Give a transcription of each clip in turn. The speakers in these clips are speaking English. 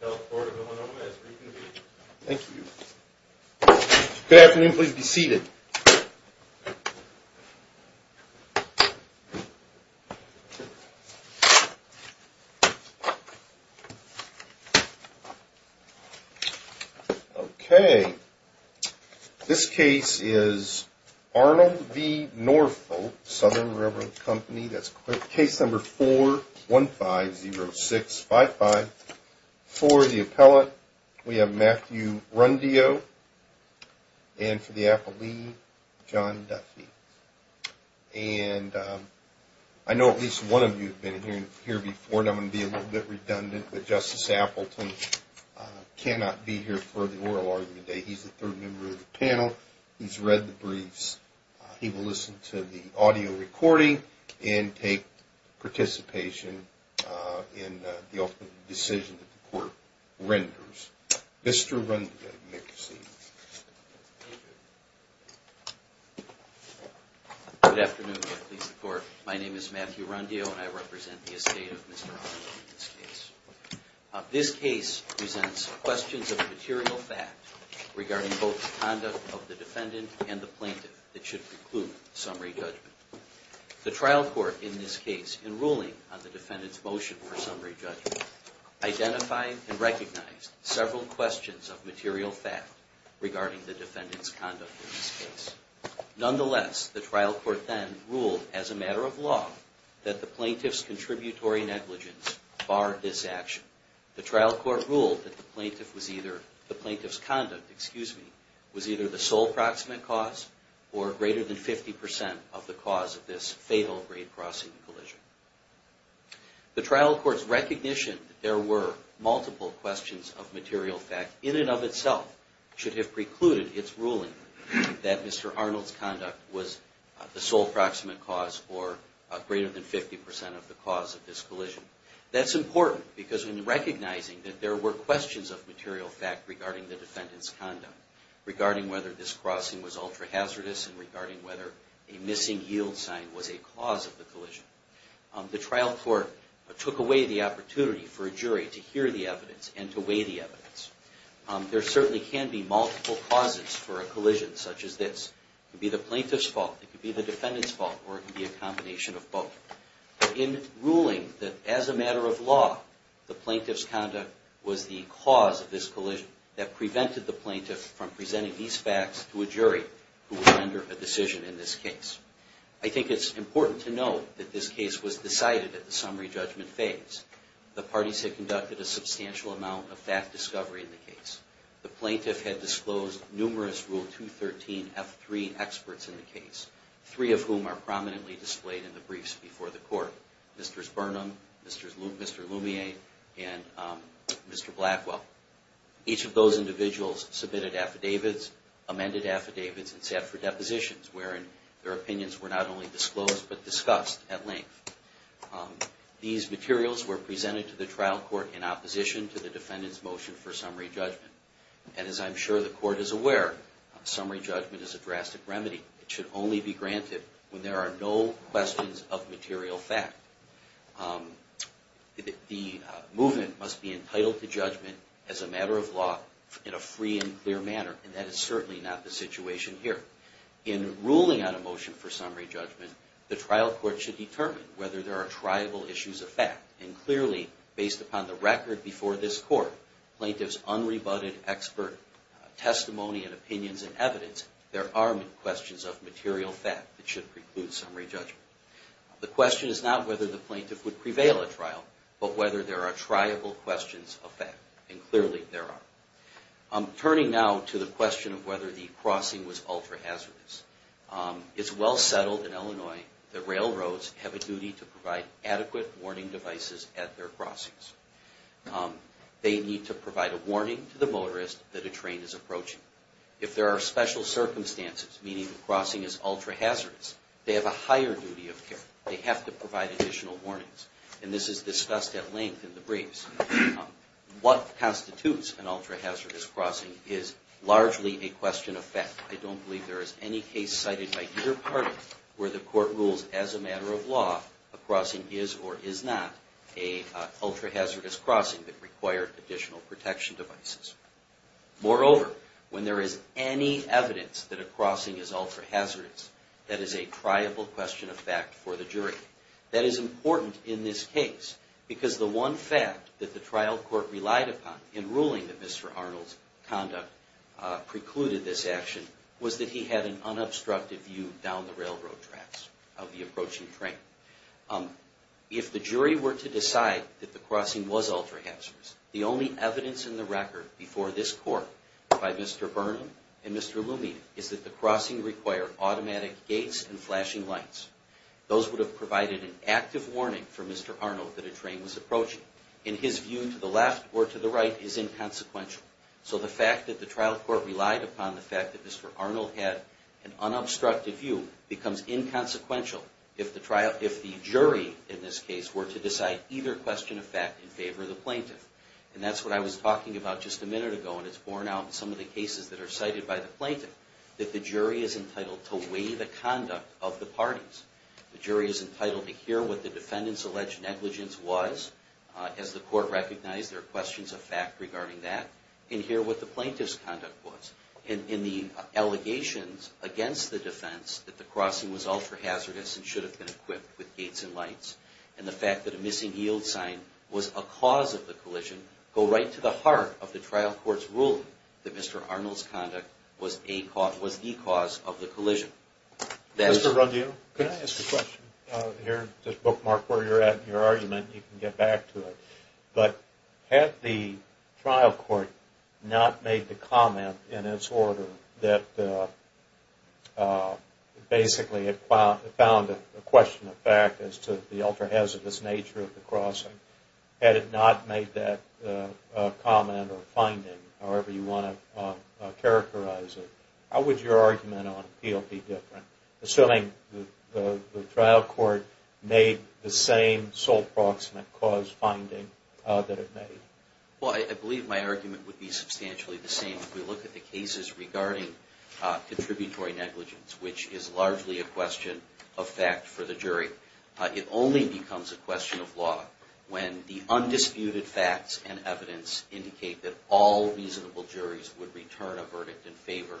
Health Board of Illinois is being convened. Good afternoon, please be seated. Okay, this case is Arnold v. Norfolk, Southern Railroad Company, that's case number 4150655. For the appellate, we have Matthew Rundio, and for the appellee, John Duffy. And I know at least one of you have been here before, and I'm going to be a little bit redundant, but Justice Appleton cannot be here for the oral argument today. He's the third member of the panel, he's read the briefs, he will listen to the audio recording and take participation in the ultimate decision that the court renders. Mr. Rundio, you may proceed. Good afternoon, Your Honor, my name is Matthew Rundio, and I represent the estate of Mr. Arnold in this case. This case presents questions of material fact regarding both the conduct of the defendant and the plaintiff that should preclude summary judgment. The trial court in this case, in ruling on the defendant's motion for summary judgment, identified and recognized several questions of material fact regarding the defendant's conduct in this case. Nonetheless, the trial court then ruled, as a matter of law, that the plaintiff's contributory negligence barred this action. The trial court ruled that the plaintiff's conduct was either the sole proximate cause or greater than 50% of the cause of this fatal grade-crossing collision. The trial court's recognition that there were multiple questions of material fact, in and of itself, should have precluded its ruling that Mr. Arnold's conduct was the sole proximate cause or greater than 50% of the cause of this collision. That's important because in recognizing that there were questions of material fact regarding the defendant's conduct, regarding whether this crossing was ultra-hazardous and regarding whether a missing yield sign was a cause of the collision, the trial court took away the opportunity for a jury to hear the evidence and to weigh the evidence. There certainly can be multiple causes for a collision such as this. It could be the plaintiff's fault, it could be the defendant's fault, or it could be a combination of both. In ruling that, as a matter of law, the plaintiff's conduct was the cause of this collision, that prevented the plaintiff from presenting these facts to a jury who would render a decision in this case. I think it's important to note that this case was decided at the summary judgment phase. The parties had conducted a substantial amount of fact discovery in the case. The plaintiff had disclosed numerous Rule 213F3 experts in the case, three of whom are prominently displayed in the briefs before the court. Mr. Burnham, Mr. Lumiere, and Mr. Blackwell. Each of those individuals submitted affidavits, amended affidavits, and sat for depositions, wherein their opinions were not only disclosed but discussed at length. These materials were presented to the trial court in opposition to the defendant's motion for summary judgment. And as I'm sure the court is aware, summary judgment is a drastic remedy. It should only be granted when there are no questions of material fact. The movement must be entitled to judgment as a matter of law in a free and clear manner, and that is certainly not the situation here. In ruling on a motion for summary judgment, the trial court should determine whether there are triable issues of fact. And clearly, based upon the record before this court, plaintiff's unrebutted expert testimony and opinions and evidence, there are questions of material fact that should preclude summary judgment. The question is not whether the plaintiff would prevail at trial, but whether there are triable questions of fact. And clearly, there are. Turning now to the question of whether the crossing was ultra-hazardous. It's well settled in Illinois that railroads have a duty to provide adequate warning devices at their crossings. They need to provide a warning to the motorist that a train is approaching. If there are special circumstances, meaning the crossing is ultra-hazardous, they have a higher duty of care. They have to provide additional warnings. And this is discussed at length in the briefs. What constitutes an ultra-hazardous crossing is largely a question of fact. I don't believe there is any case cited by either party where the court rules as a matter of law a crossing is or is not a ultra-hazardous crossing that required additional protection devices. Moreover, when there is any evidence that a crossing is ultra-hazardous, that is a triable question of fact for the jury. That is important in this case because the one fact that the trial court relied upon in ruling that Mr. Arnold's conduct precluded this action was that he had an unobstructed view down the railroad tracks of the approaching train. If the jury were to decide that the crossing was ultra-hazardous, the only evidence in the record before this court by Mr. Burnham and Mr. Lumita is that the crossing required automatic gates and flashing lights. Those would have provided an active warning for Mr. Arnold that a train was approaching. And his view to the left or to the right is inconsequential. So the fact that the trial court relied upon the fact that Mr. Arnold had an unobstructed view becomes inconsequential if the jury in this case were to decide either question of fact in favor of the plaintiff. And that's what I was talking about just a minute ago and it's borne out in some of the cases that are cited by the plaintiff that the jury is entitled to weigh the conduct of the parties. The jury is entitled to hear what the defendant's alleged negligence was. As the court recognized, there are questions of fact regarding that. And hear what the plaintiff's conduct was. And in the allegations against the defense that the crossing was ultra-hazardous and should have been equipped with gates and lights. And the fact that a missing yield sign was a cause of the collision go right to the heart of the trial court's ruling that Mr. Arnold's conduct was the cause of the collision. Mr. Ruggiero, can I ask a question? Here, just bookmark where you're at in your argument and you can get back to it. But had the trial court not made the comment in its order that basically it found a question of fact as to the ultra-hazardous nature of the crossing. Had it not made that comment or finding, however you want to characterize it, how would your argument on appeal be different? Assuming the trial court made the same sole proximate cause finding that it made. Well, I believe my argument would be substantially the same. If we look at the cases regarding contributory negligence, which is largely a question of fact for the jury, it only becomes a question of law when the undisputed facts and evidence indicate that all reasonable juries would return a verdict in favor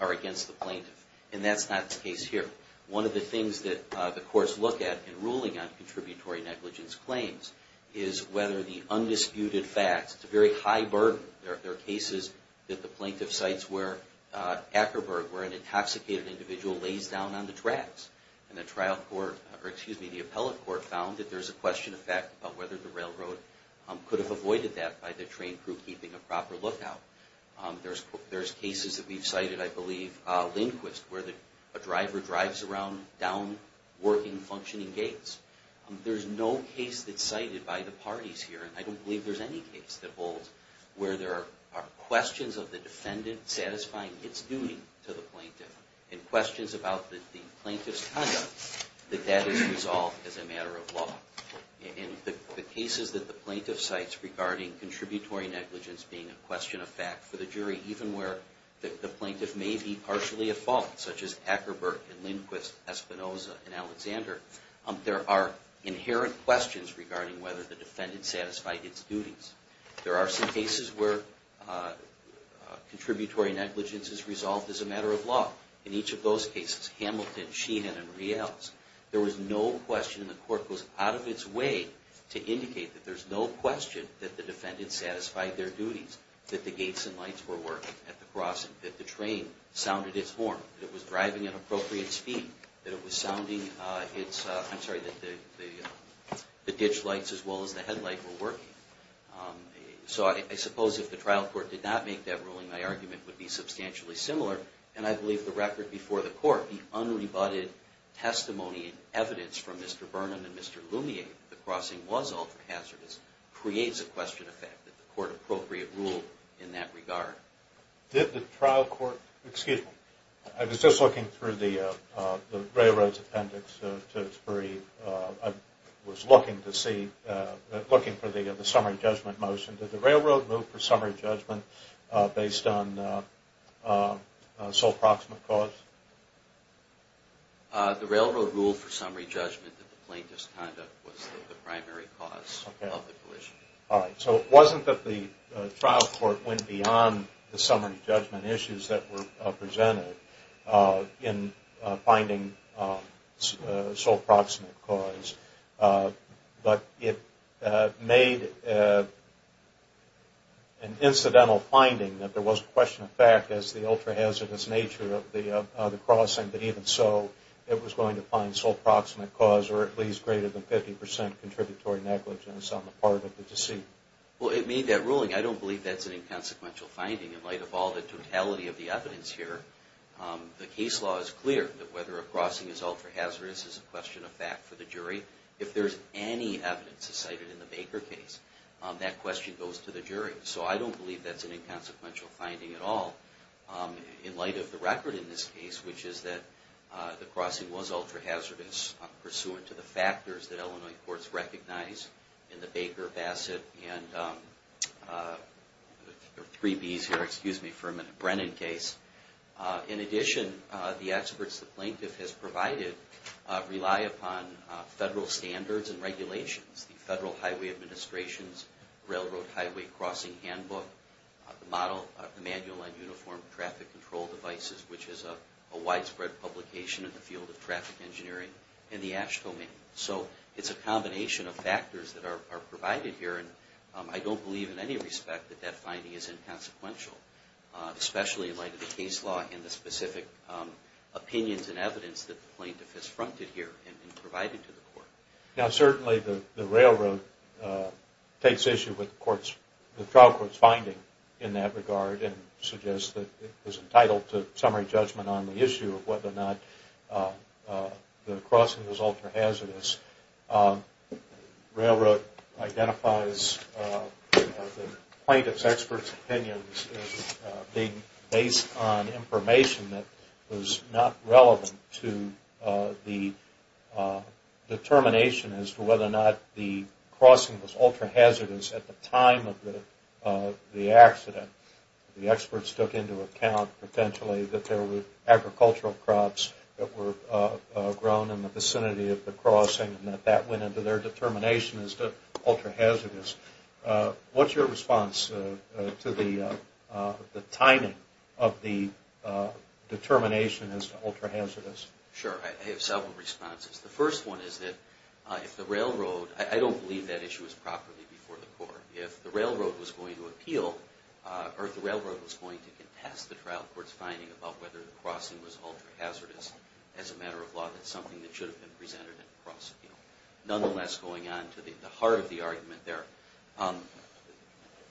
or against the plaintiff. And that's not the case here. One of the things that the courts look at in ruling on contributory negligence claims is whether the undisputed facts, it's a very high burden. There are cases that the plaintiff cites where an intoxicated individual lays down on the tracks. And the appellate court found that there's a question of fact about whether the railroad could have avoided that by the train crew keeping a proper lookout. There's cases that we've cited, I believe, Lindquist, where a driver drives around down working, functioning gates. There's no case that's cited by the parties here, and I don't believe there's any case that holds, where there are questions of the defendant satisfying its duty to the plaintiff, and questions about the plaintiff's conduct, that that is resolved as a matter of law. In the cases that the plaintiff cites regarding contributory negligence being a question of fact for the jury, even where the plaintiff may be partially at fault, such as Ackerberg and Lindquist, Espinosa and Alexander, there are inherent questions regarding whether the defendant satisfied its duties. There are some cases where contributory negligence is resolved as a matter of law. In each of those cases, Hamilton, Sheehan, and Reales, there was no question, and the court goes out of its way to indicate that there's no question that the defendant satisfied their duties, that the gates and lights were working at the crossing, that the train sounded its horn, that it was driving at appropriate speed, that it was sounding its, I'm sorry, that the ditch lights as well as the headlight were working. So I suppose if the trial court did not make that ruling, my argument would be substantially similar, and I believe the record before the court, the unrebutted testimony and evidence from Mr. Burnham and Mr. Lumiere, that the crossing was ultra-hazardous, creates a question of fact, that the court appropriate rule in that regard. Did the trial court, excuse me, I was just looking through the railroad's appendix to its brief. I was looking to see, looking for the summary judgment motion. Did the railroad move for summary judgment based on sole proximate cause? The railroad ruled for summary judgment that the plane misconduct was the primary cause of the collision. All right, so it wasn't that the trial court went beyond the summary judgment issues that were presented in finding sole proximate cause, but it made an incidental finding that there was a question of fact, as the ultra-hazardous nature of the crossing, but even so, it was going to find sole proximate cause or at least greater than 50% contributory negligence on the part of the deceit. Well, it made that ruling. I don't believe that's an inconsequential finding in light of all the totality of the evidence here. The case law is clear that whether a crossing is ultra-hazardous is a question of fact for the jury. If there's any evidence cited in the Baker case, that question goes to the jury. So I don't believe that's an inconsequential finding at all in light of the record in this case, which is that the crossing was ultra-hazardous pursuant to the factors that Illinois courts recognize in the Baker, Bassett, and there are three B's here, excuse me for a minute, Brennan case. In addition, the experts the plaintiff has provided rely upon federal standards and regulations. The Federal Highway Administration's Railroad Highway Crossing Handbook, the Model of Manual and Uniform Traffic Control Devices, which is a widespread publication in the field of traffic engineering, and the ASH domain. So it's a combination of factors that are provided here, and I don't believe in any respect that that finding is inconsequential, especially in light of the case law and the specific opinions and evidence that the plaintiff has fronted here and provided to the court. Now certainly the railroad takes issue with the trial court's finding in that regard, and suggests that it was entitled to summary judgment on the issue of whether or not the crossing was ultra-hazardous. Railroad identifies the plaintiff's expert's opinions based on information that was not relevant to the determination as to whether or not the crossing was ultra-hazardous at the time of the accident. The experts took into account potentially that there were agricultural crops that were grown in the vicinity of the crossing and that that went into their determination as to ultra-hazardous. What's your response to the timing of the determination as to ultra-hazardous? Sure, I have several responses. The first one is that if the railroad, I don't believe that issue is properly before the court, if the railroad was going to appeal, or if the railroad was going to contest the trial court's finding about whether the crossing was ultra-hazardous as a matter of law, that's something that should have been presented in the cross appeal. Nonetheless, going on to the heart of the argument there,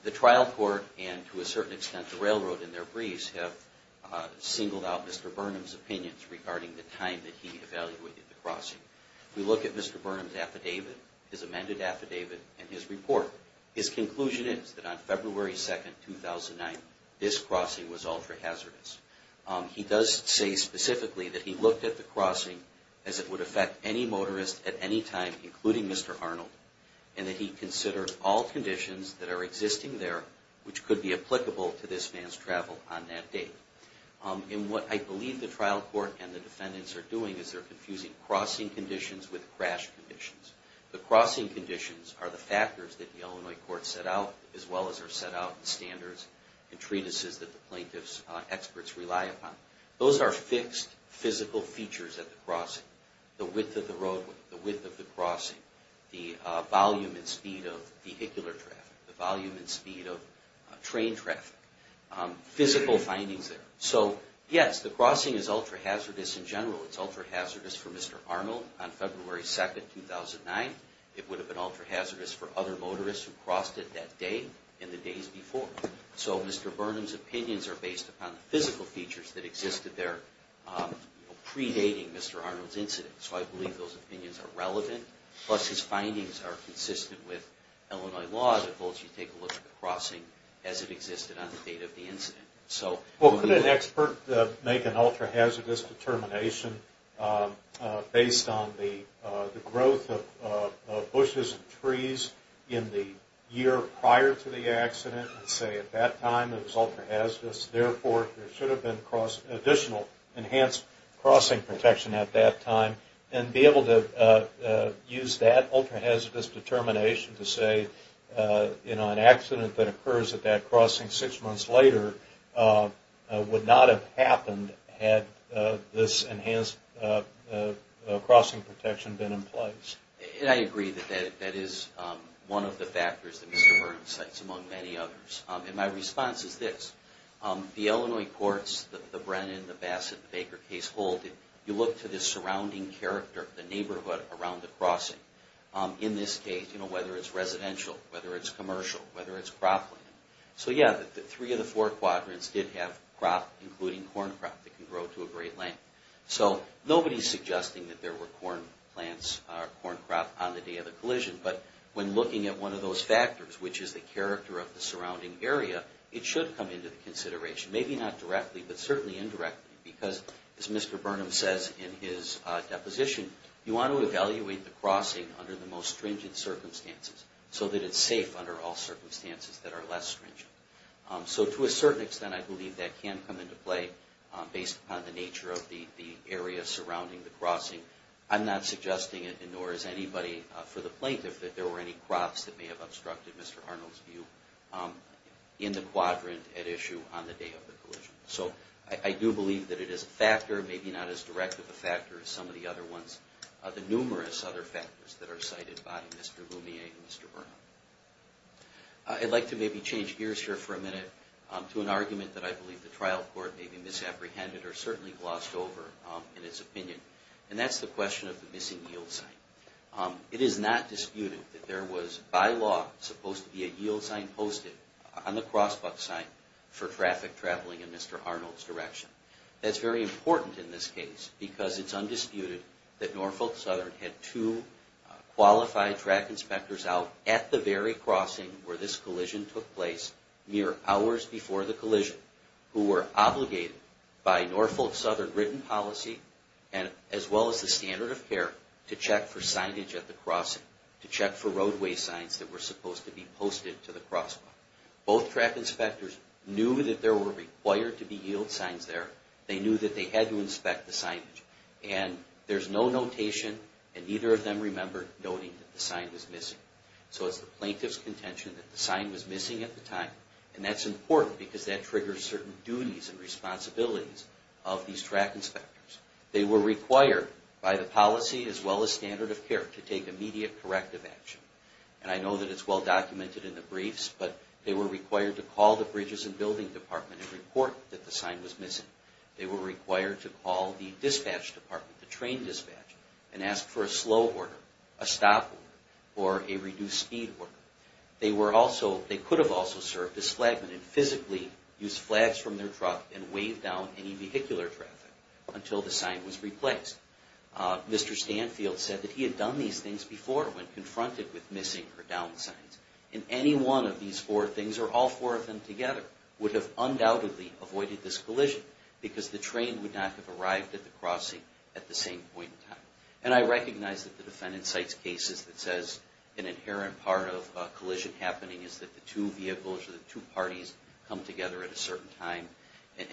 the trial court and to a certain extent the railroad in their briefs have singled out Mr. Burnham's opinions regarding the time that he evaluated the crossing. We look at Mr. Burnham's affidavit, his amended affidavit, and his report. His conclusion is that on February 2, 2009, this crossing was ultra-hazardous. He does say specifically that he looked at the crossing as it would affect any motorist at any time, including Mr. Arnold, and that he considered all conditions that are existing there which could be applicable to this man's travel on that date. And what I believe the trial court and the defendants are doing is they're confusing crossing conditions with crash conditions. The crossing conditions are the factors that the Illinois court set out, as well as are set out in standards and treatises that the plaintiff's experts rely upon. Those are fixed physical features at the crossing. The width of the roadway, the width of the crossing, the volume and speed of vehicular traffic, the volume and speed of train traffic, physical findings there. So yes, the crossing is ultra-hazardous in general. It's ultra-hazardous for Mr. Arnold on February 2, 2009. It would have been ultra-hazardous for other motorists who crossed it that day and the days before. So Mr. Burnham's opinions are based upon the physical features that existed there predating Mr. Arnold's incident. So I believe those opinions are relevant, plus his findings are consistent with Illinois law that holds you to take a look at the crossing as it existed on the date of the incident. Well, could an expert make an ultra-hazardous determination based on the growth of bushes and trees in the year prior to the accident and say at that time it was ultra-hazardous, therefore there should have been additional enhanced crossing protection at that time, and be able to use that ultra-hazardous determination to say, you know, an accident that occurs at that crossing six months later would not have happened had this enhanced crossing protection been in place. And I agree that that is one of the factors that Mr. Burnham cites, among many others. And my response is this. The Illinois courts, the Brennan, the Bassett, the Baker case hold that you look to the surrounding character, the neighborhood around the crossing. In this case, you know, whether it's residential, whether it's commercial, whether it's cropland. So yeah, the three of the four quadrants did have crop, including corn crop, that can grow to a great length. So nobody's suggesting that there were corn plants or corn crop on the day of the collision, but when looking at one of those factors, which is the character of the surrounding area, it should come into the consideration. Maybe not directly, but certainly indirectly, because as Mr. Burnham says in his deposition, you want to evaluate the crossing under the most stringent circumstances, so that it's safe under all circumstances that are less stringent. So to a certain extent, I believe that can come into play based upon the nature of the area surrounding the crossing. I'm not suggesting it, nor is anybody for the plaintiff, that there were any crops that may have obstructed Mr. Arnold's view in the quadrant at issue on the day of the collision. So I do believe that it is a factor, maybe not as direct of a factor as some of the other ones, the numerous other factors that are cited by Mr. Lumier and Mr. Burnham. I'd like to maybe change gears here for a minute to an argument that I believe the trial court may be misapprehended or certainly glossed over in its opinion, and that's the question of the missing yield sign. It is not disputed that there was by law supposed to be a yield sign posted on the cross buck sign for traffic traveling in Mr. Arnold's direction. That's very important in this case because it's undisputed that Norfolk Southern had two qualified track inspectors out at the very crossing where this collision took place mere hours before the collision who were obligated by Norfolk Southern written policy as well as the standard of care to check for signage at the crossing, to check for roadway signs that were supposed to be posted to the cross buck. Both track inspectors knew that there were required to be yield signs there. They knew that they had to inspect the signage. And there's no notation and neither of them remembered noting that the sign was missing. So it's the plaintiff's contention that the sign was missing at the time. And that's important because that triggers certain duties and responsibilities of these track inspectors. They were required by the policy as well as standard of care to take immediate corrective action. And I know that it's well documented in the briefs, but they were required to call the bridges and building department and report that the sign was missing. They were required to call the dispatch department, the train dispatch, and ask for a slow order, a stop order, or a reduced speed order. They could have also served as flagmen and physically used flags from their truck and waved down any vehicular traffic until the sign was replaced. Mr. Stanfield said that he had done these things before when confronted with missing or down signs. And any one of these four things, or all four of them together, would have undoubtedly avoided this collision because the train would not have arrived at the crossing at the same point in time. And I recognize that the defendant cites cases that says an inherent part of a collision happening is that the two vehicles or the two parties come together at a certain time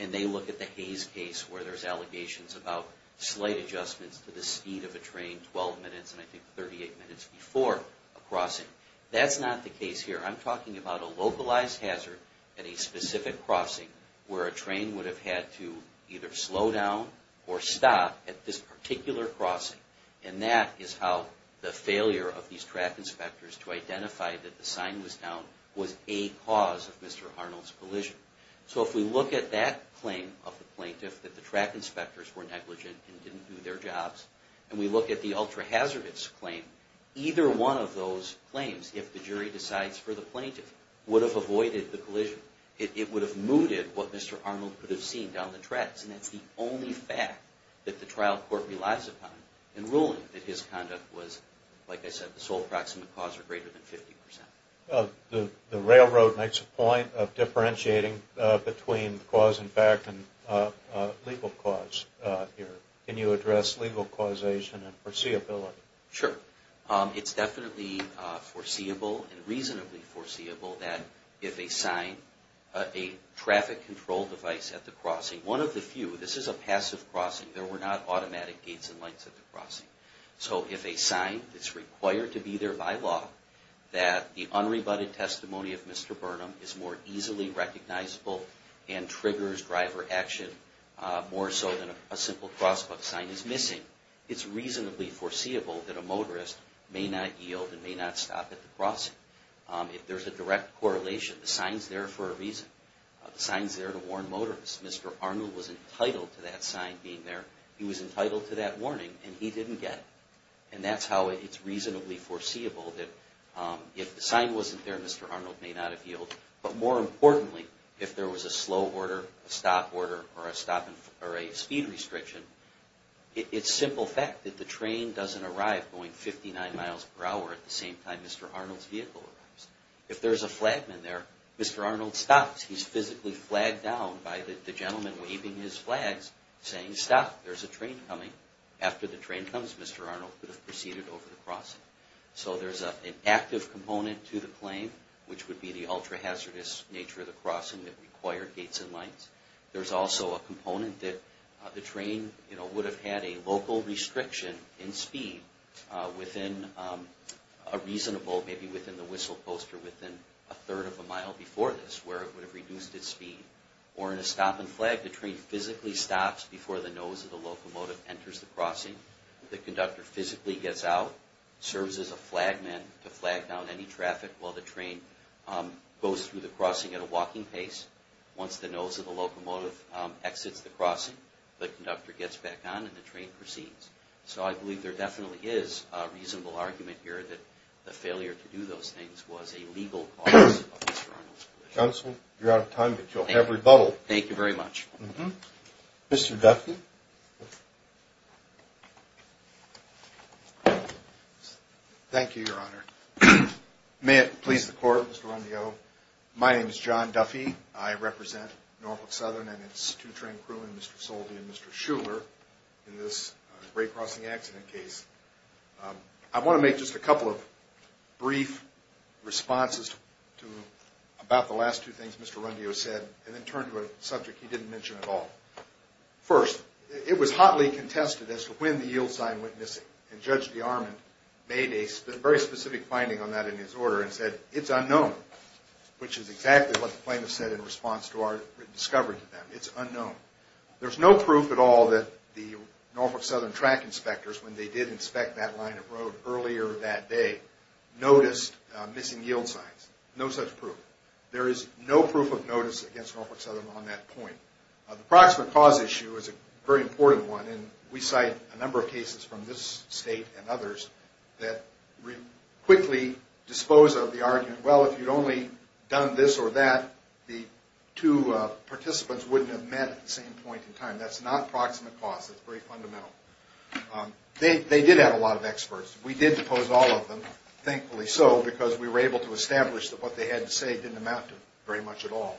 and they look at the Hayes case where there's allegations about slight adjustments to the speed of a train 12 minutes and I think 38 minutes before a crossing. That's not the case here. I'm talking about a localized hazard at a specific crossing where a train would have had to either slow down or stop at this particular crossing. And that is how the failure of these track inspectors to identify that the sign was down was a cause of Mr. Arnold's collision. So if we look at that claim of the plaintiff that the track inspectors were negligent and didn't do their jobs and we look at the ultra-hazardous claim, either one of those claims, if the jury decides for the plaintiff, would have avoided the collision. It would have mooted what Mr. Arnold could have seen down the tracks. And that's the only fact that the trial court relies upon in ruling that his conduct was, like I said, the sole proximate cause or greater than 50%. The railroad makes a point of differentiating between cause and fact and legal cause here. Can you address legal causation and foreseeability? Sure. It's definitely foreseeable and reasonably foreseeable that if a sign, a traffic control device at the crossing, one of the few, this is a passive crossing, there were not automatic gates and lights at the crossing. So if a sign that's required to be there by law that the unrebutted testimony of Mr. Burnham is more easily recognizable and triggers driver action more so than a simple crosswalk sign is missing, it's reasonably foreseeable that a motorist may not yield and may not stop at the crossing. If there's a direct correlation, the sign's there for a reason. The sign's there to warn motorists. Mr. Arnold was entitled to that sign being there. He was entitled to that warning, and he didn't get it. And that's how it's reasonably foreseeable that if the sign wasn't there, Mr. Arnold may not have yielded. But more importantly, if there was a slow order, a stop order, or a speed restriction, it's simple fact that the train doesn't arrive going 59 miles per hour at the same time Mr. Arnold's vehicle arrives. If there's a flagman there, Mr. Arnold stops. He's physically flagged down by the gentleman waving his flags, saying, Stop, there's a train coming. After the train comes, Mr. Arnold could have proceeded over the crossing. So there's an active component to the claim, which would be the ultra-hazardous nature of the crossing that required gates and lights. There's also a component that the train would have had a local restriction in speed within a reasonable, maybe within the whistle post or within a third of a mile before this, where it would have reduced its speed. Or in a stop and flag, the train physically stops before the nose of the locomotive enters the crossing. The conductor physically gets out, serves as a flagman to flag down any traffic while the train goes through the crossing at a walking pace. Once the nose of the locomotive exits the crossing, the conductor gets back on and the train proceeds. So I believe there definitely is a reasonable argument here that the failure to do those things was a legal cause of Mr. Arnold's collision. Counsel, you're out of time, but you'll have rebuttal. Thank you very much. Mr. Duffy? Thank you, Your Honor. May it please the Court, Mr. Rondeau, my name is John Duffy. I represent Norfolk Southern and its two-train crew and Mr. Soldi and Mr. Schuller in this Ray Crossing accident case. I want to make just a couple of brief responses to about the last two things Mr. Rondeau said and then turn to a subject he didn't mention at all. First, it was hotly contested as to when the yield sign went missing, and Judge DeArmond made a very specific finding on that in his order and said, it's unknown, which is exactly what the plaintiff said in response to our discovery to them. It's unknown. There's no proof at all that the Norfolk Southern track inspectors, when they did inspect that line of road earlier that day, noticed missing yield signs. No such proof. There is no proof of notice against Norfolk Southern on that point. The proximate cause issue is a very important one, and we cite a number of cases from this State and others that quickly dispose of the argument, well, if you'd only done this or that, the two participants wouldn't have met at the same point in time. That's not proximate cause. That's very fundamental. They did have a lot of experts. We did depose all of them, thankfully so, because we were able to establish that what they had to say didn't amount to very much at all.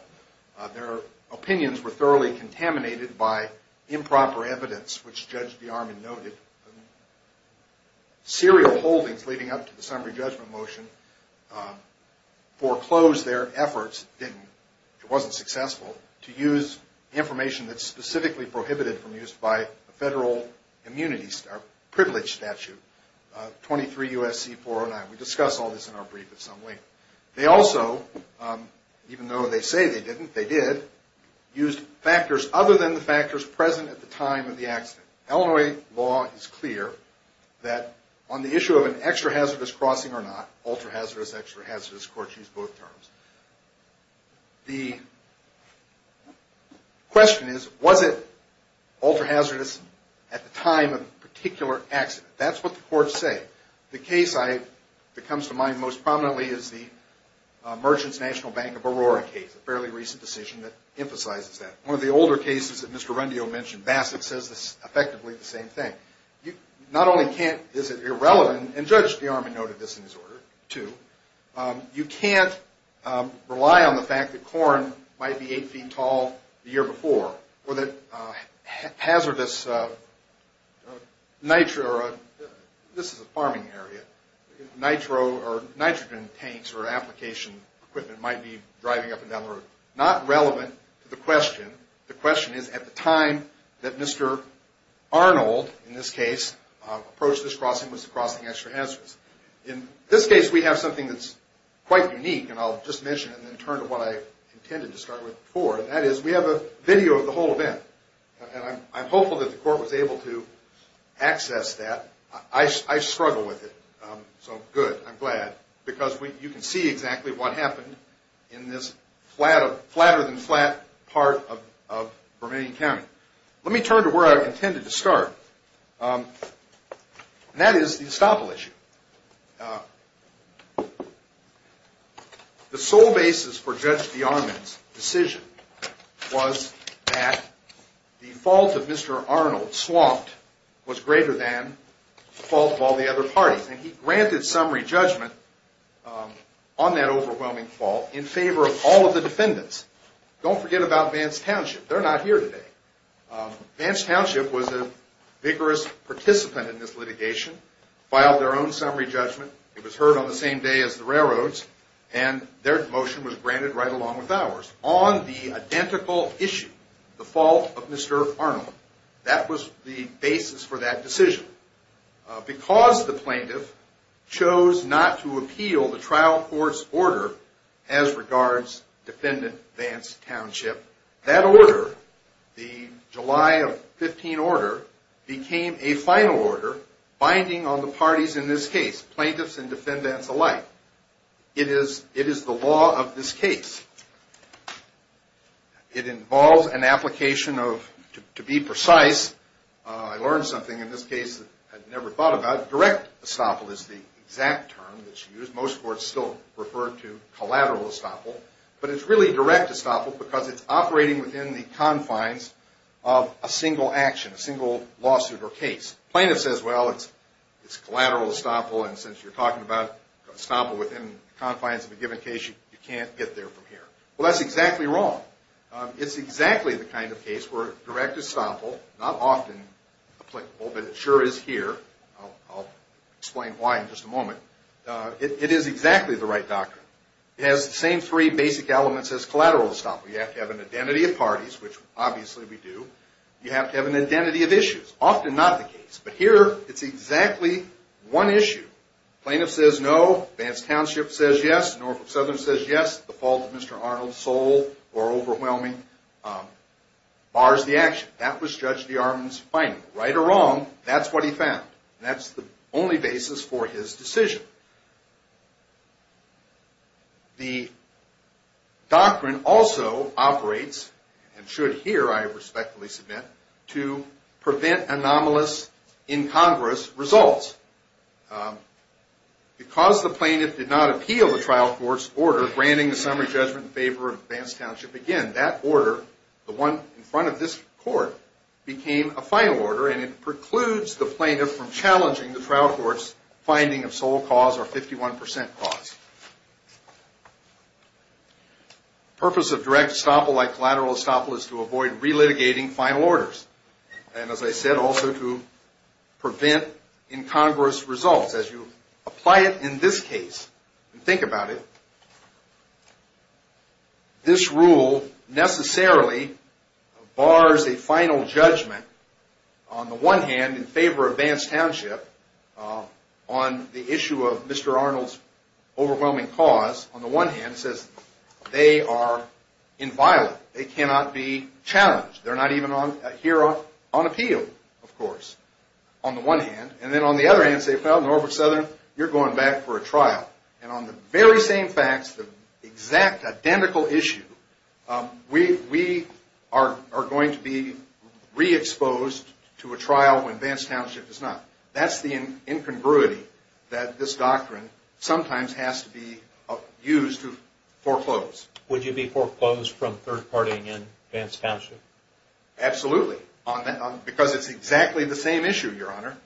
Their opinions were thoroughly contaminated by improper evidence, which Judge DeArmond noted. Serial holdings leading up to the summary judgment motion foreclosed their efforts, if it wasn't successful, to use information that's specifically prohibited from use by a federal immunity or privilege statute, 23 U.S.C. 409. We discuss all this in our brief at some length. They also, even though they say they didn't, they did, used factors other than the factors present at the time of the accident. Illinois law is clear that on the issue of an extra-hazardous crossing or not, ultra-hazardous, extra-hazardous, courts use both terms. The question is, was it ultra-hazardous at the time of the particular accident? That's what the courts say. The case that comes to mind most prominently is the Merchants National Bank of Aurora case, a fairly recent decision that emphasizes that. One of the older cases that Mr. Rundio mentioned, Bassett, says effectively the same thing. Not only is it irrelevant, and Judge DeArmond noted this in his order too, you can't rely on the fact that corn might be eight feet tall the year before, or that hazardous nitro, this is a farming area, nitro or nitrogen tanks or application equipment might be driving up and down the road. Not relevant to the question. The question is, at the time that Mr. Arnold, in this case, approached this crossing, was the crossing extra-hazardous? In this case, we have something that's quite unique, and I'll just mention it and then turn to what I intended to start with before. That is, we have a video of the whole event, and I'm hopeful that the court was able to access that. I struggle with it, so good, I'm glad, because you can see exactly what happened in this flatter-than-flat part of Vermillion County. Let me turn to where I intended to start, and that is the estoppel issue. The sole basis for Judge DeArmond's decision was that the fault of Mr. Arnold, Swampt, was greater than the fault of all the other parties, and he granted summary judgment on that overwhelming fault in favor of all of the defendants. Don't forget about Vance Township. They're not here today. Vance Township was a vigorous participant in this litigation, filed their own summary judgment. It was heard on the same day as the railroads, and their motion was granted right along with ours. On the identical issue, the fault of Mr. Arnold, that was the basis for that decision. Because the plaintiff chose not to appeal the trial court's order as regards defendant Vance Township, that order, the July of 15 order, became a final order binding on the parties in this case, plaintiffs and defendants alike. It is the law of this case. It involves an application of, to be precise, I learned something in this case that I'd never thought about. Direct estoppel is the exact term that's used. Most courts still refer to collateral estoppel, but it's really direct estoppel because it's operating within the confines of a single action, a single lawsuit or case. Plaintiff says, well, it's collateral estoppel, and since you're talking about estoppel within the confines of a given case, you can't get there from here. Well, that's exactly wrong. It's exactly the kind of case where direct estoppel, not often applicable, but it sure is here. I'll explain why in just a moment. It is exactly the right doctrine. It has the same three basic elements as collateral estoppel. You have to have an identity of parties, which obviously we do. You have to have an identity of issues, often not the case. But here, it's exactly one issue. Plaintiff says no. Vance Township says yes. Norfolk Southern says yes. The fault of Mr. Arnold's soul or overwhelming bars the action. That was Judge DeArmond's finding. Right or wrong, that's what he found. That's the only basis for his decision. The doctrine also operates and should here, I respectfully submit, to prevent anomalous, incongruous results. Because the plaintiff did not appeal the trial court's order granting the summary judgment in favor of Vance Township again, that order, the one in front of this court, became a final order, and it precludes the plaintiff from challenging the trial court's finding of sole cause or 51% cause. The purpose of direct estoppel, like collateral estoppel, is to avoid relitigating final orders. And as I said, also to prevent incongruous results. As you apply it in this case and think about it, this rule necessarily bars a final judgment, on the one hand, in favor of Vance Township on the issue of Mr. Arnold's overwhelming cause. On the one hand, it says they are inviolate. They cannot be challenged. They're not even here on appeal, of course, on the one hand. And then on the other hand, say, well, Norfolk Southern, you're going back for a trial. And on the very same facts, the exact identical issue, we are going to be re-exposed to a trial when Vance Township is not. That's the incongruity that this doctrine sometimes has to be used to foreclose. Would you be foreclosed from third-parting in Vance Township? Absolutely, because it's exactly the same issue, Your Honor.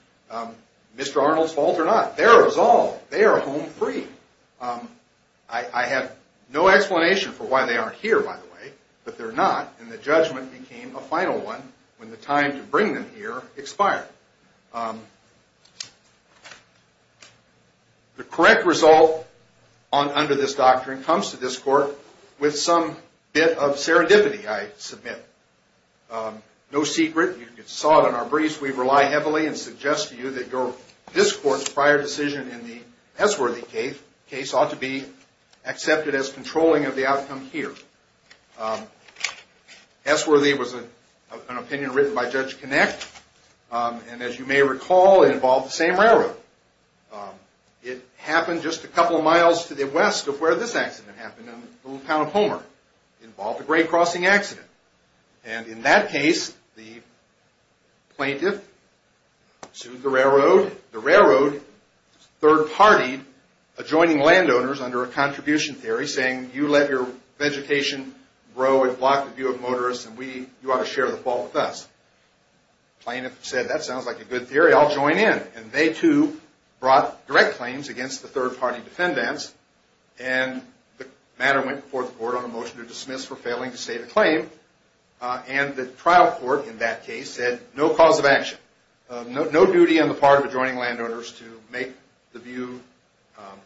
Mr. Arnold's fault or not, they're resolved. They are home free. I have no explanation for why they aren't here, by the way, but they're not, and the judgment became a final one when the time to bring them here expired. The correct result under this doctrine comes to this Court with some bit of serendipity, I submit. No secret. You saw it in our briefs. We rely heavily and suggest to you that this Court's prior decision in the S. Worthy case ought to be accepted as controlling of the outcome here. S. Worthy was an opinion written by Judge Kinect, and it was a decision that was made by Judge Kinect. And as you may recall, it involved the same railroad. It happened just a couple of miles to the west of where this accident happened in the little town of Homer. It involved a grade-crossing accident. And in that case, the plaintiff sued the railroad. The railroad third-partied, adjoining landowners under a contribution theory, saying, you let your vegetation grow and block the view of motorists, and you ought to share the fault with us. The plaintiff said, that sounds like a good theory. I'll join in. And they, too, brought direct claims against the third-party defendants, and the matter went before the Court on a motion to dismiss for failing to state a claim. And the trial court in that case said, no cause of action, no duty on the part of adjoining landowners to make the view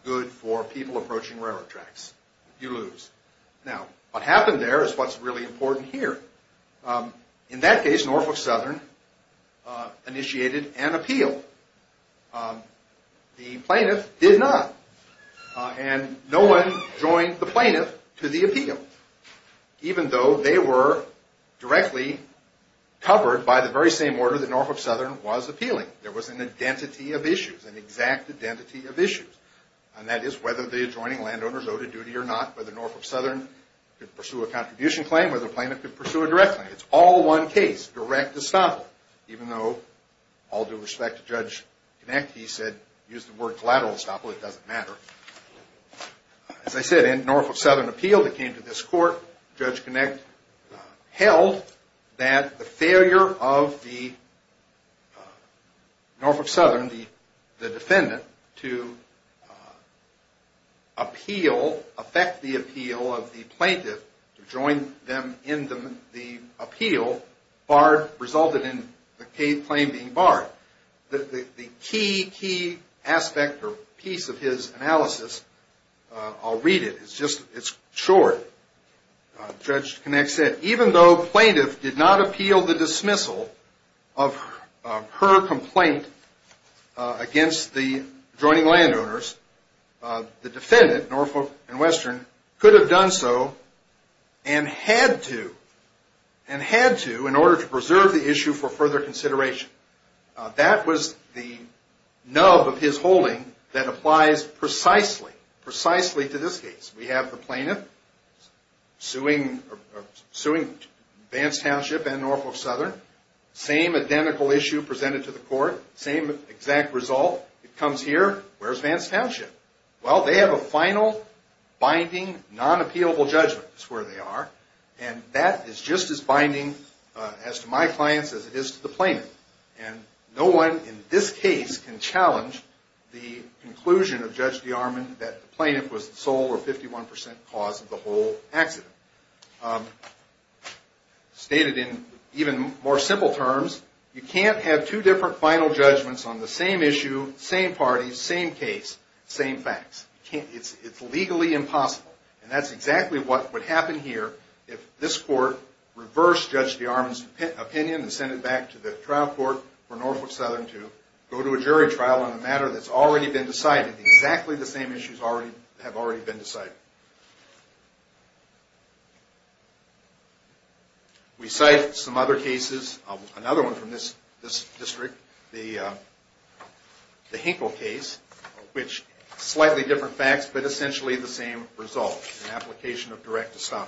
good for people approaching railroad tracks. You lose. Now, what happened there is what's really important here. In that case, Norfolk Southern initiated an appeal. The plaintiff did not, and no one joined the plaintiff to the appeal, even though they were directly covered by the very same order that Norfolk Southern was appealing. There was an identity of issues, an exact identity of issues, and that is whether the adjoining landowners owed a duty or not, whether Norfolk Southern could pursue a contribution claim, whether the plaintiff could pursue a direct claim. It's all one case, direct estoppel, even though all due respect to Judge Kinect, he said, use the word collateral estoppel. It doesn't matter. As I said, in Norfolk Southern appeal that came to this court, Judge Kinect held that the failure of the Norfolk Southern, the defendant, to appeal, affect the appeal of the plaintiff, to join them in the appeal, barred, resulted in the claim being barred. The key, key aspect or piece of his analysis, I'll read it. It's short. Judge Kinect said, even though plaintiff did not appeal the dismissal of her complaint against the adjoining landowners, the defendant, Norfolk and Western, could have done so and had to, and had to, in order to preserve the issue for further consideration. That was the nub of his holding that applies precisely, precisely to this case. We have the plaintiff suing Vance Township and Norfolk Southern, same identical issue presented to the court, same exact result. It comes here. Where's Vance Township? Well, they have a final, binding, non-appealable judgment is where they are, and that is just as binding as to my clients as it is to the plaintiff. And no one in this case can challenge the conclusion of Judge DeArmond that the plaintiff was the sole or 51% cause of the whole accident. Stated in even more simple terms, you can't have two different final judgments on the same issue, same parties, same case, same facts. It's legally impossible. And that's exactly what would happen here if this court reversed Judge DeArmond's opinion and sent it back to the trial court for Norfolk Southern to go to a jury trial on a matter that's already been decided. Exactly the same issues have already been decided. We cite some other cases, another one from this district, the Hinkle case, which slightly different facts but essentially the same result, an application of direct estoppel.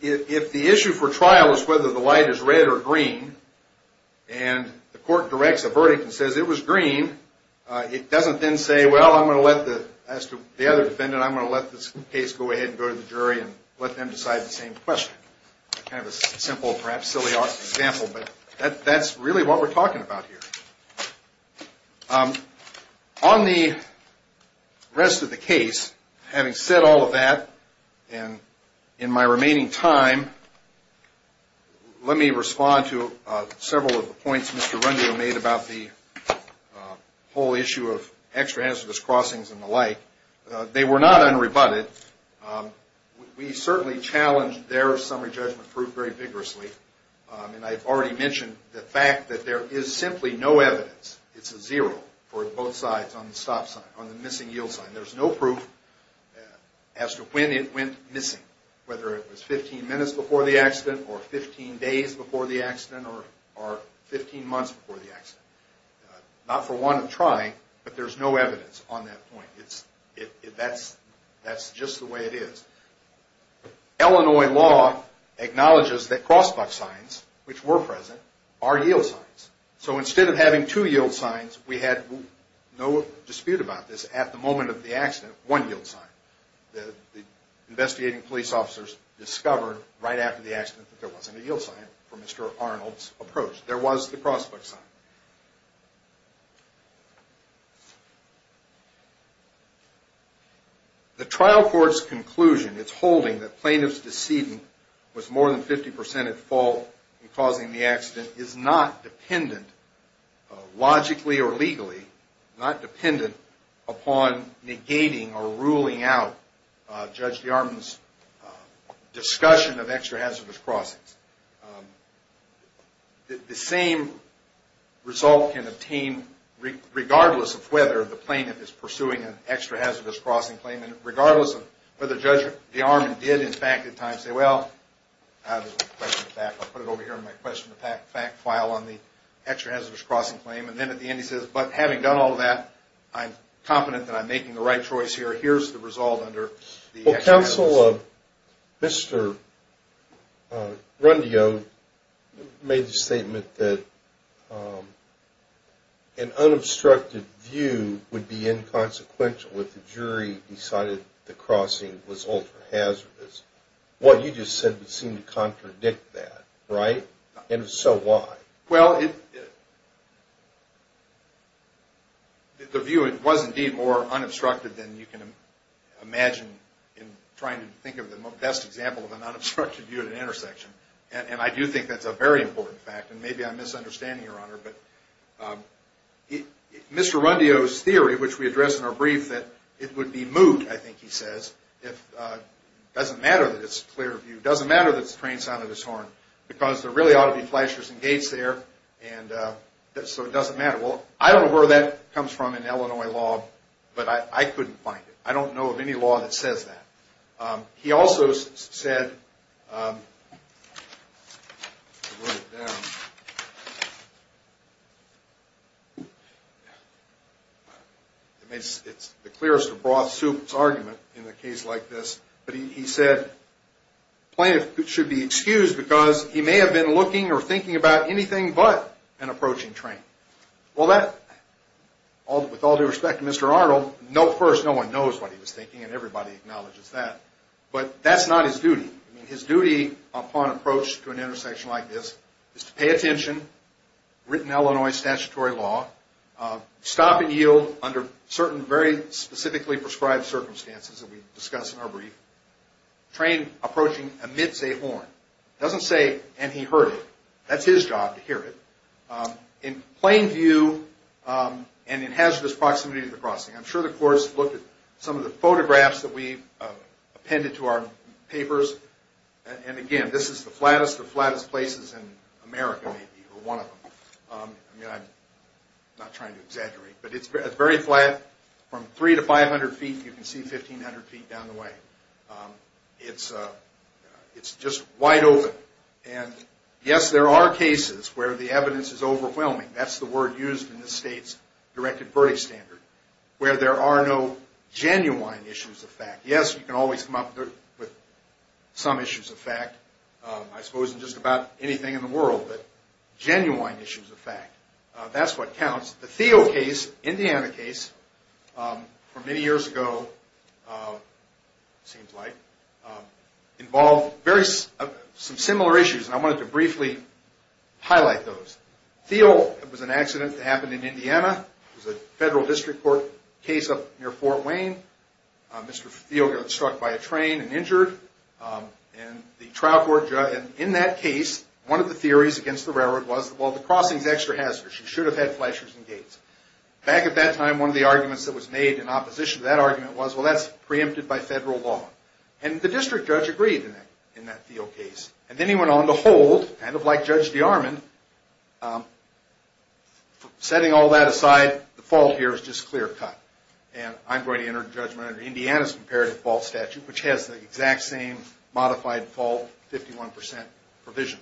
If the issue for trial is whether the light is red or green, and the court directs a verdict and says it was green, it doesn't then say, well, I'm going to let the other defendant, I'm going to let this case go ahead and go to the jury and let them decide the same question. Kind of a simple, perhaps silly example, but that's really what we're talking about here. On the rest of the case, having said all of that, and in my remaining time, let me respond to several of the points Mr. Rundio made about the whole issue of extra hazardous crossings and the like. They were not unrebutted. We certainly challenged their summary judgment proof very vigorously, and I've already mentioned the fact that there is simply no evidence, it's a zero for both sides on the stop sign, on the missing yield sign. There's no proof as to when it went missing, whether it was 15 minutes before the accident or 15 days before the accident or 15 months before the accident. Not for want of trying, but there's no evidence on that point. That's just the way it is. Illinois law acknowledges that crossbar signs, which were present, are yield signs. So instead of having two yield signs, we had no dispute about this, at the moment of the accident, one yield sign. The investigating police officers discovered right after the accident that there wasn't a yield sign for Mr. Arnold's approach. There was the crossbar sign. The trial court's conclusion, it's holding that plaintiff's decedent was more than 50% at fault in causing the accident, is not dependent, logically or legally, not dependent upon negating or ruling out Judge DeArmond's discussion of extra hazardous crossings. The same result can obtain regardless of whether the plaintiff is pursuing an extra hazardous crossing claim and regardless of whether Judge DeArmond did, in fact, at times say, well, I'll put it over here in my question of fact file on the extra hazardous crossing claim. And then at the end he says, but having done all that, I'm confident that I'm making the right choice here. The counsel of Mr. Grundio made the statement that an unobstructed view would be inconsequential if the jury decided the crossing was ultra hazardous. What you just said would seem to contradict that, right? And if so, why? Well, the view was indeed more unobstructed than you can imagine in trying to think of the best example of an unobstructed view at an intersection. And I do think that's a very important fact, and maybe I'm misunderstanding, Your Honor, but Mr. Grundio's theory, which we addressed in our brief, that it would be moot, I think he says, if it doesn't matter that it's a clear view, doesn't matter that it's the train sound of his horn, because there really ought to be flashers and gates there, and so it doesn't matter. Well, I don't know where that comes from in Illinois law, but I couldn't find it. I don't know of any law that says that. He also said, it's the clearest of broth soups argument in a case like this, but he said plaintiff should be excused because he may have been looking or thinking about anything but an approaching train. Well, with all due respect to Mr. Arnold, first, no one knows what he was thinking, and everybody acknowledges that, but that's not his duty. His duty upon approach to an intersection like this is to pay attention, written Illinois statutory law, stop and yield under certain very specifically prescribed circumstances that we discuss in our brief. Train approaching amidst a horn. It doesn't say, and he heard it. That's his job, to hear it. In plain view and in hazardous proximity of the crossing. I'm sure the court has looked at some of the photographs that we've appended to our papers, and again, this is the flattest of flattest places in America, maybe, or one of them. I mean, I'm not trying to exaggerate, but it's very flat. From 300 to 500 feet, you can see 1,500 feet down the way. It's just wide open. And, yes, there are cases where the evidence is overwhelming. That's the word used in this state's directed verdict standard, where there are no genuine issues of fact. Yes, you can always come up with some issues of fact, I suppose, in just about anything in the world, but genuine issues of fact, that's what counts. The Thiel case, Indiana case, from many years ago, it seems like, involved some similar issues, and I wanted to briefly highlight those. Thiel, it was an accident that happened in Indiana. It was a federal district court case up near Fort Wayne. Mr. Thiel got struck by a train and injured, and the trial court judge, and in that case, one of the theories against the railroad was, well, the crossing's extra hazardous. You should have had flashers and gates. Back at that time, one of the arguments that was made in opposition to that argument was, well, that's preempted by federal law, and the district judge agreed in that Thiel case, and then he went on to hold, kind of like Judge DeArmond. Setting all that aside, the fault here is just clear cut, and I'm going to enter judgment under Indiana's comparative fault statute, which has the exact same modified fault, 51 percent provision.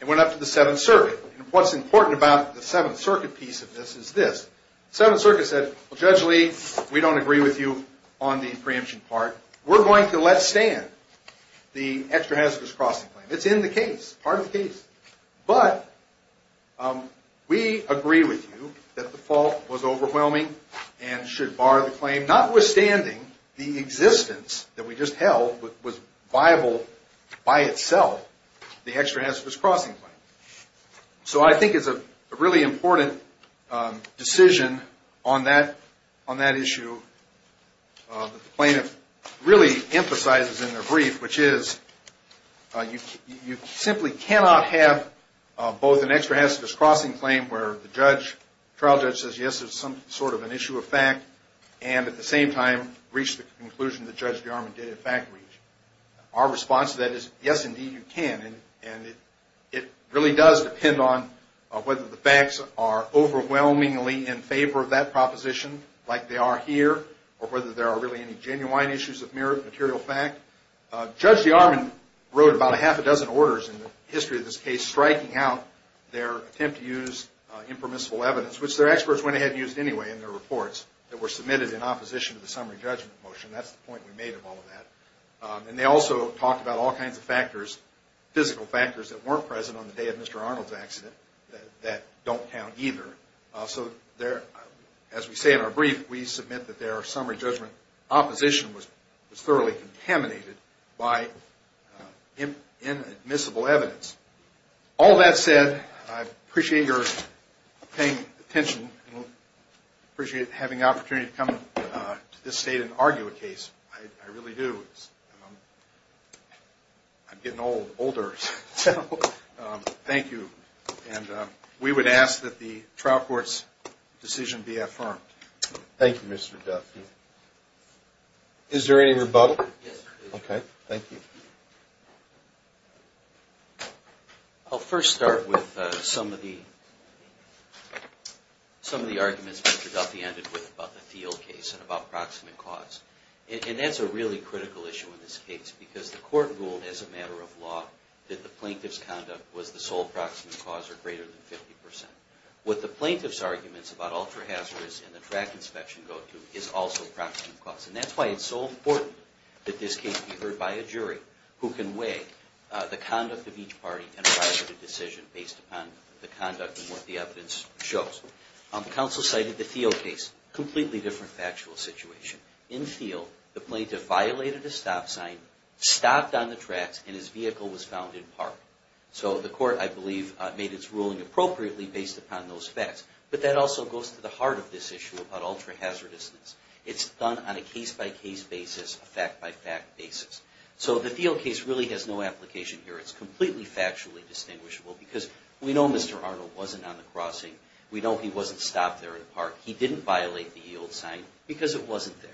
It went up to the Seventh Circuit, and what's important about the Seventh Circuit piece of this is this. The Seventh Circuit said, well, Judge Lee, we don't agree with you on the preemption part. We're going to let stand the extra hazardous crossing claim. It's in the case, part of the case, but we agree with you that the fault was overwhelming and should bar the claim, notwithstanding the existence that we just held was viable by itself. The extra hazardous crossing claim. So I think it's a really important decision on that issue that the plaintiff really emphasizes in their brief, which is you simply cannot have both an extra hazardous crossing claim where the trial judge says, yes, there's some sort of an issue of fact, and at the same time, reach the conclusion that Judge DeArmond did in fact reach. Our response to that is, yes, indeed, you can, and it really does depend on whether the facts are overwhelmingly in favor of that proposition, like they are here, or whether there are really any genuine issues of material fact. Judge DeArmond wrote about a half a dozen orders in the history of this case, striking out their attempt to use impermissible evidence, which their experts went ahead and used anyway in their reports that were submitted in opposition to the summary judgment motion. That's the point we made of all of that. And they also talked about all kinds of factors, physical factors, that weren't present on the day of Mr. Arnold's accident that don't count either. So as we say in our brief, we submit that their summary judgment opposition was thoroughly contaminated by inadmissible evidence. All that said, I appreciate your paying attention, and appreciate having the opportunity to come to this state and argue a case. I really do. I'm getting older, so thank you. And we would ask that the trial court's decision be affirmed. Thank you, Mr. Duffy. Is there any rebuttal? Yes, there is. Okay, thank you. I'll first start with some of the arguments Mr. Duffy ended with about the Thiel case and about proximate cause. And that's a really critical issue in this case because the court ruled as a matter of law that the plaintiff's conduct was the sole proximate cause or greater than 50%. What the plaintiff's arguments about ultra-hazardous and the track inspection go to is also proximate cause. And that's why it's so important that this case be heard by a jury who can weigh the conduct of each party and provide a decision based upon the conduct and what the evidence shows. Counsel cited the Thiel case. Completely different factual situation. In Thiel, the plaintiff violated a stop sign, stopped on the tracks, and his vehicle was found in park. So the court, I believe, made its ruling appropriately based upon those facts. But that also goes to the heart of this issue about ultra-hazardousness. It's done on a case-by-case basis, a fact-by-fact basis. So the Thiel case really has no application here. It's completely factually distinguishable because we know Mr. Arnold wasn't on the crossing. We know he wasn't stopped there in the park. He didn't violate the yield sign because it wasn't there.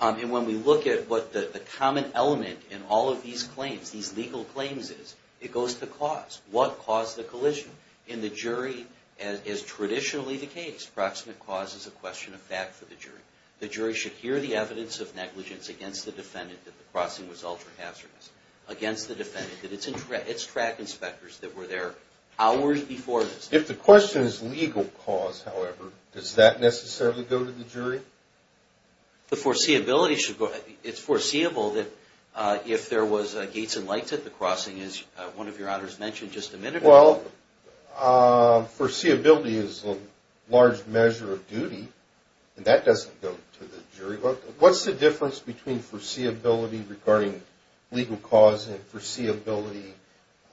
And when we look at what the common element in all of these claims, these legal claims is, it goes to cause. What caused the collision? In the jury, as traditionally the case, proximate cause is a question of fact for the jury. The jury should hear the evidence of negligence against the defendant that the crossing was ultra-hazardous, against the defendant that it's track inspectors that were there hours before this. If the question is legal cause, however, does that necessarily go to the jury? The foreseeability should go ahead. It's foreseeable that if there was gates and lights at the crossing, as one of your honors mentioned just a minute ago. Well, foreseeability is a large measure of duty, and that doesn't go to the jury. What's the difference between foreseeability regarding legal cause and foreseeability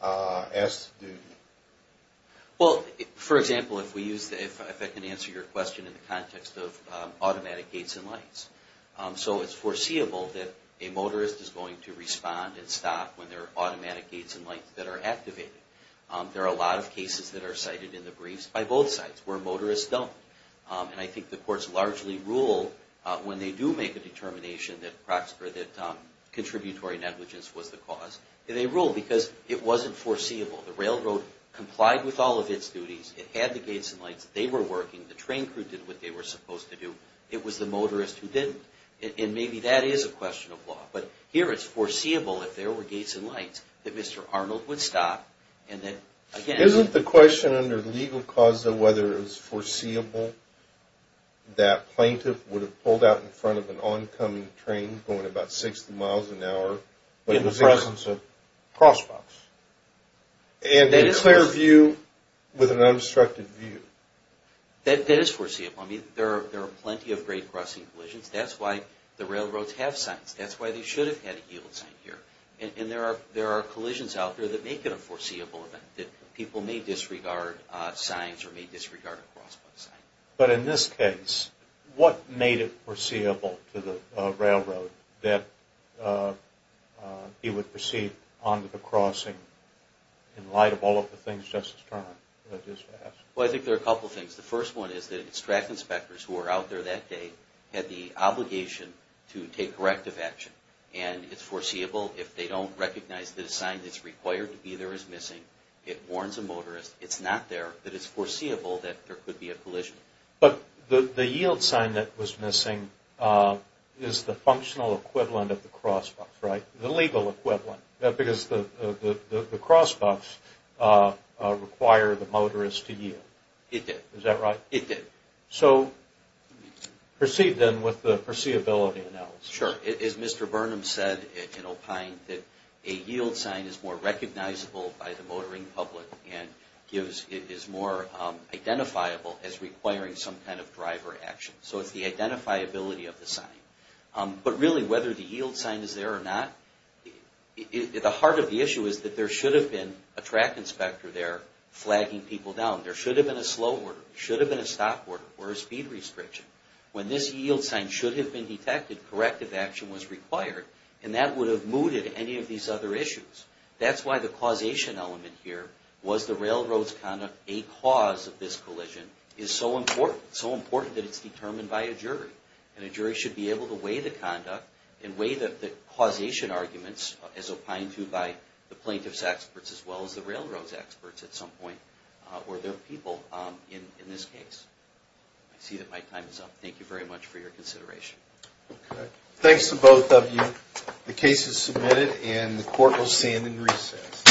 as to duty? Well, for example, if I can answer your question in the context of automatic gates and lights. So it's foreseeable that a motorist is going to respond and stop when there are automatic gates and lights that are activated. There are a lot of cases that are cited in the briefs by both sides where motorists don't. And I think the courts largely rule when they do make a determination that contributory negligence was the cause. They rule because it wasn't foreseeable. The railroad complied with all of its duties. It had the gates and lights. They were working. The train crew did what they were supposed to do. It was the motorist who didn't. And maybe that is a question of law. But here it's foreseeable if there were gates and lights that Mr. Arnold would stop. Isn't the question under legal cause, though, whether it was foreseeable that plaintiff would have pulled out in front of an oncoming train going about 60 miles an hour in the presence of crosswalks? And a clear view with an unobstructed view. That is foreseeable. I mean, there are plenty of great crossing collisions. That's why the railroads have signs. That's why they should have had a yield sign here. And there are collisions out there that make it a foreseeable event that people may disregard signs or may disregard a crosswalk sign. But in this case, what made it foreseeable to the railroad that he would proceed onto the crossing in light of all of the things Justice Turner just asked? Well, I think there are a couple of things. The first one is that the track inspectors who were out there that day had the obligation to take corrective action. And it's foreseeable if they don't recognize that a sign that's required to be there is missing. It warns a motorist it's not there, that it's foreseeable that there could be a collision. But the yield sign that was missing is the functional equivalent of the crosswalk, right? The legal equivalent. It did. Is that right? It did. So proceed then with the foreseeability analysis. Sure. As Mr. Burnham said in O'Kine, that a yield sign is more recognizable by the motoring public and is more identifiable as requiring some kind of driver action. So it's the identifiability of the sign. But really, whether the yield sign is there or not, the heart of the issue is that there should have been a track inspector there flagging people down. There should have been a slow order. There should have been a stop order or a speed restriction. When this yield sign should have been detected, corrective action was required. And that would have mooted any of these other issues. That's why the causation element here, was the railroad's conduct a cause of this collision, is so important. It's so important that it's determined by a jury. And a jury should be able to weigh the conduct and weigh the causation arguments as opined to by the plaintiff's experts as well as the railroad's experts at some point. Or their people in this case. I see that my time is up. Thank you very much for your consideration. Thanks to both of you. The case is submitted and the court will stand in recess.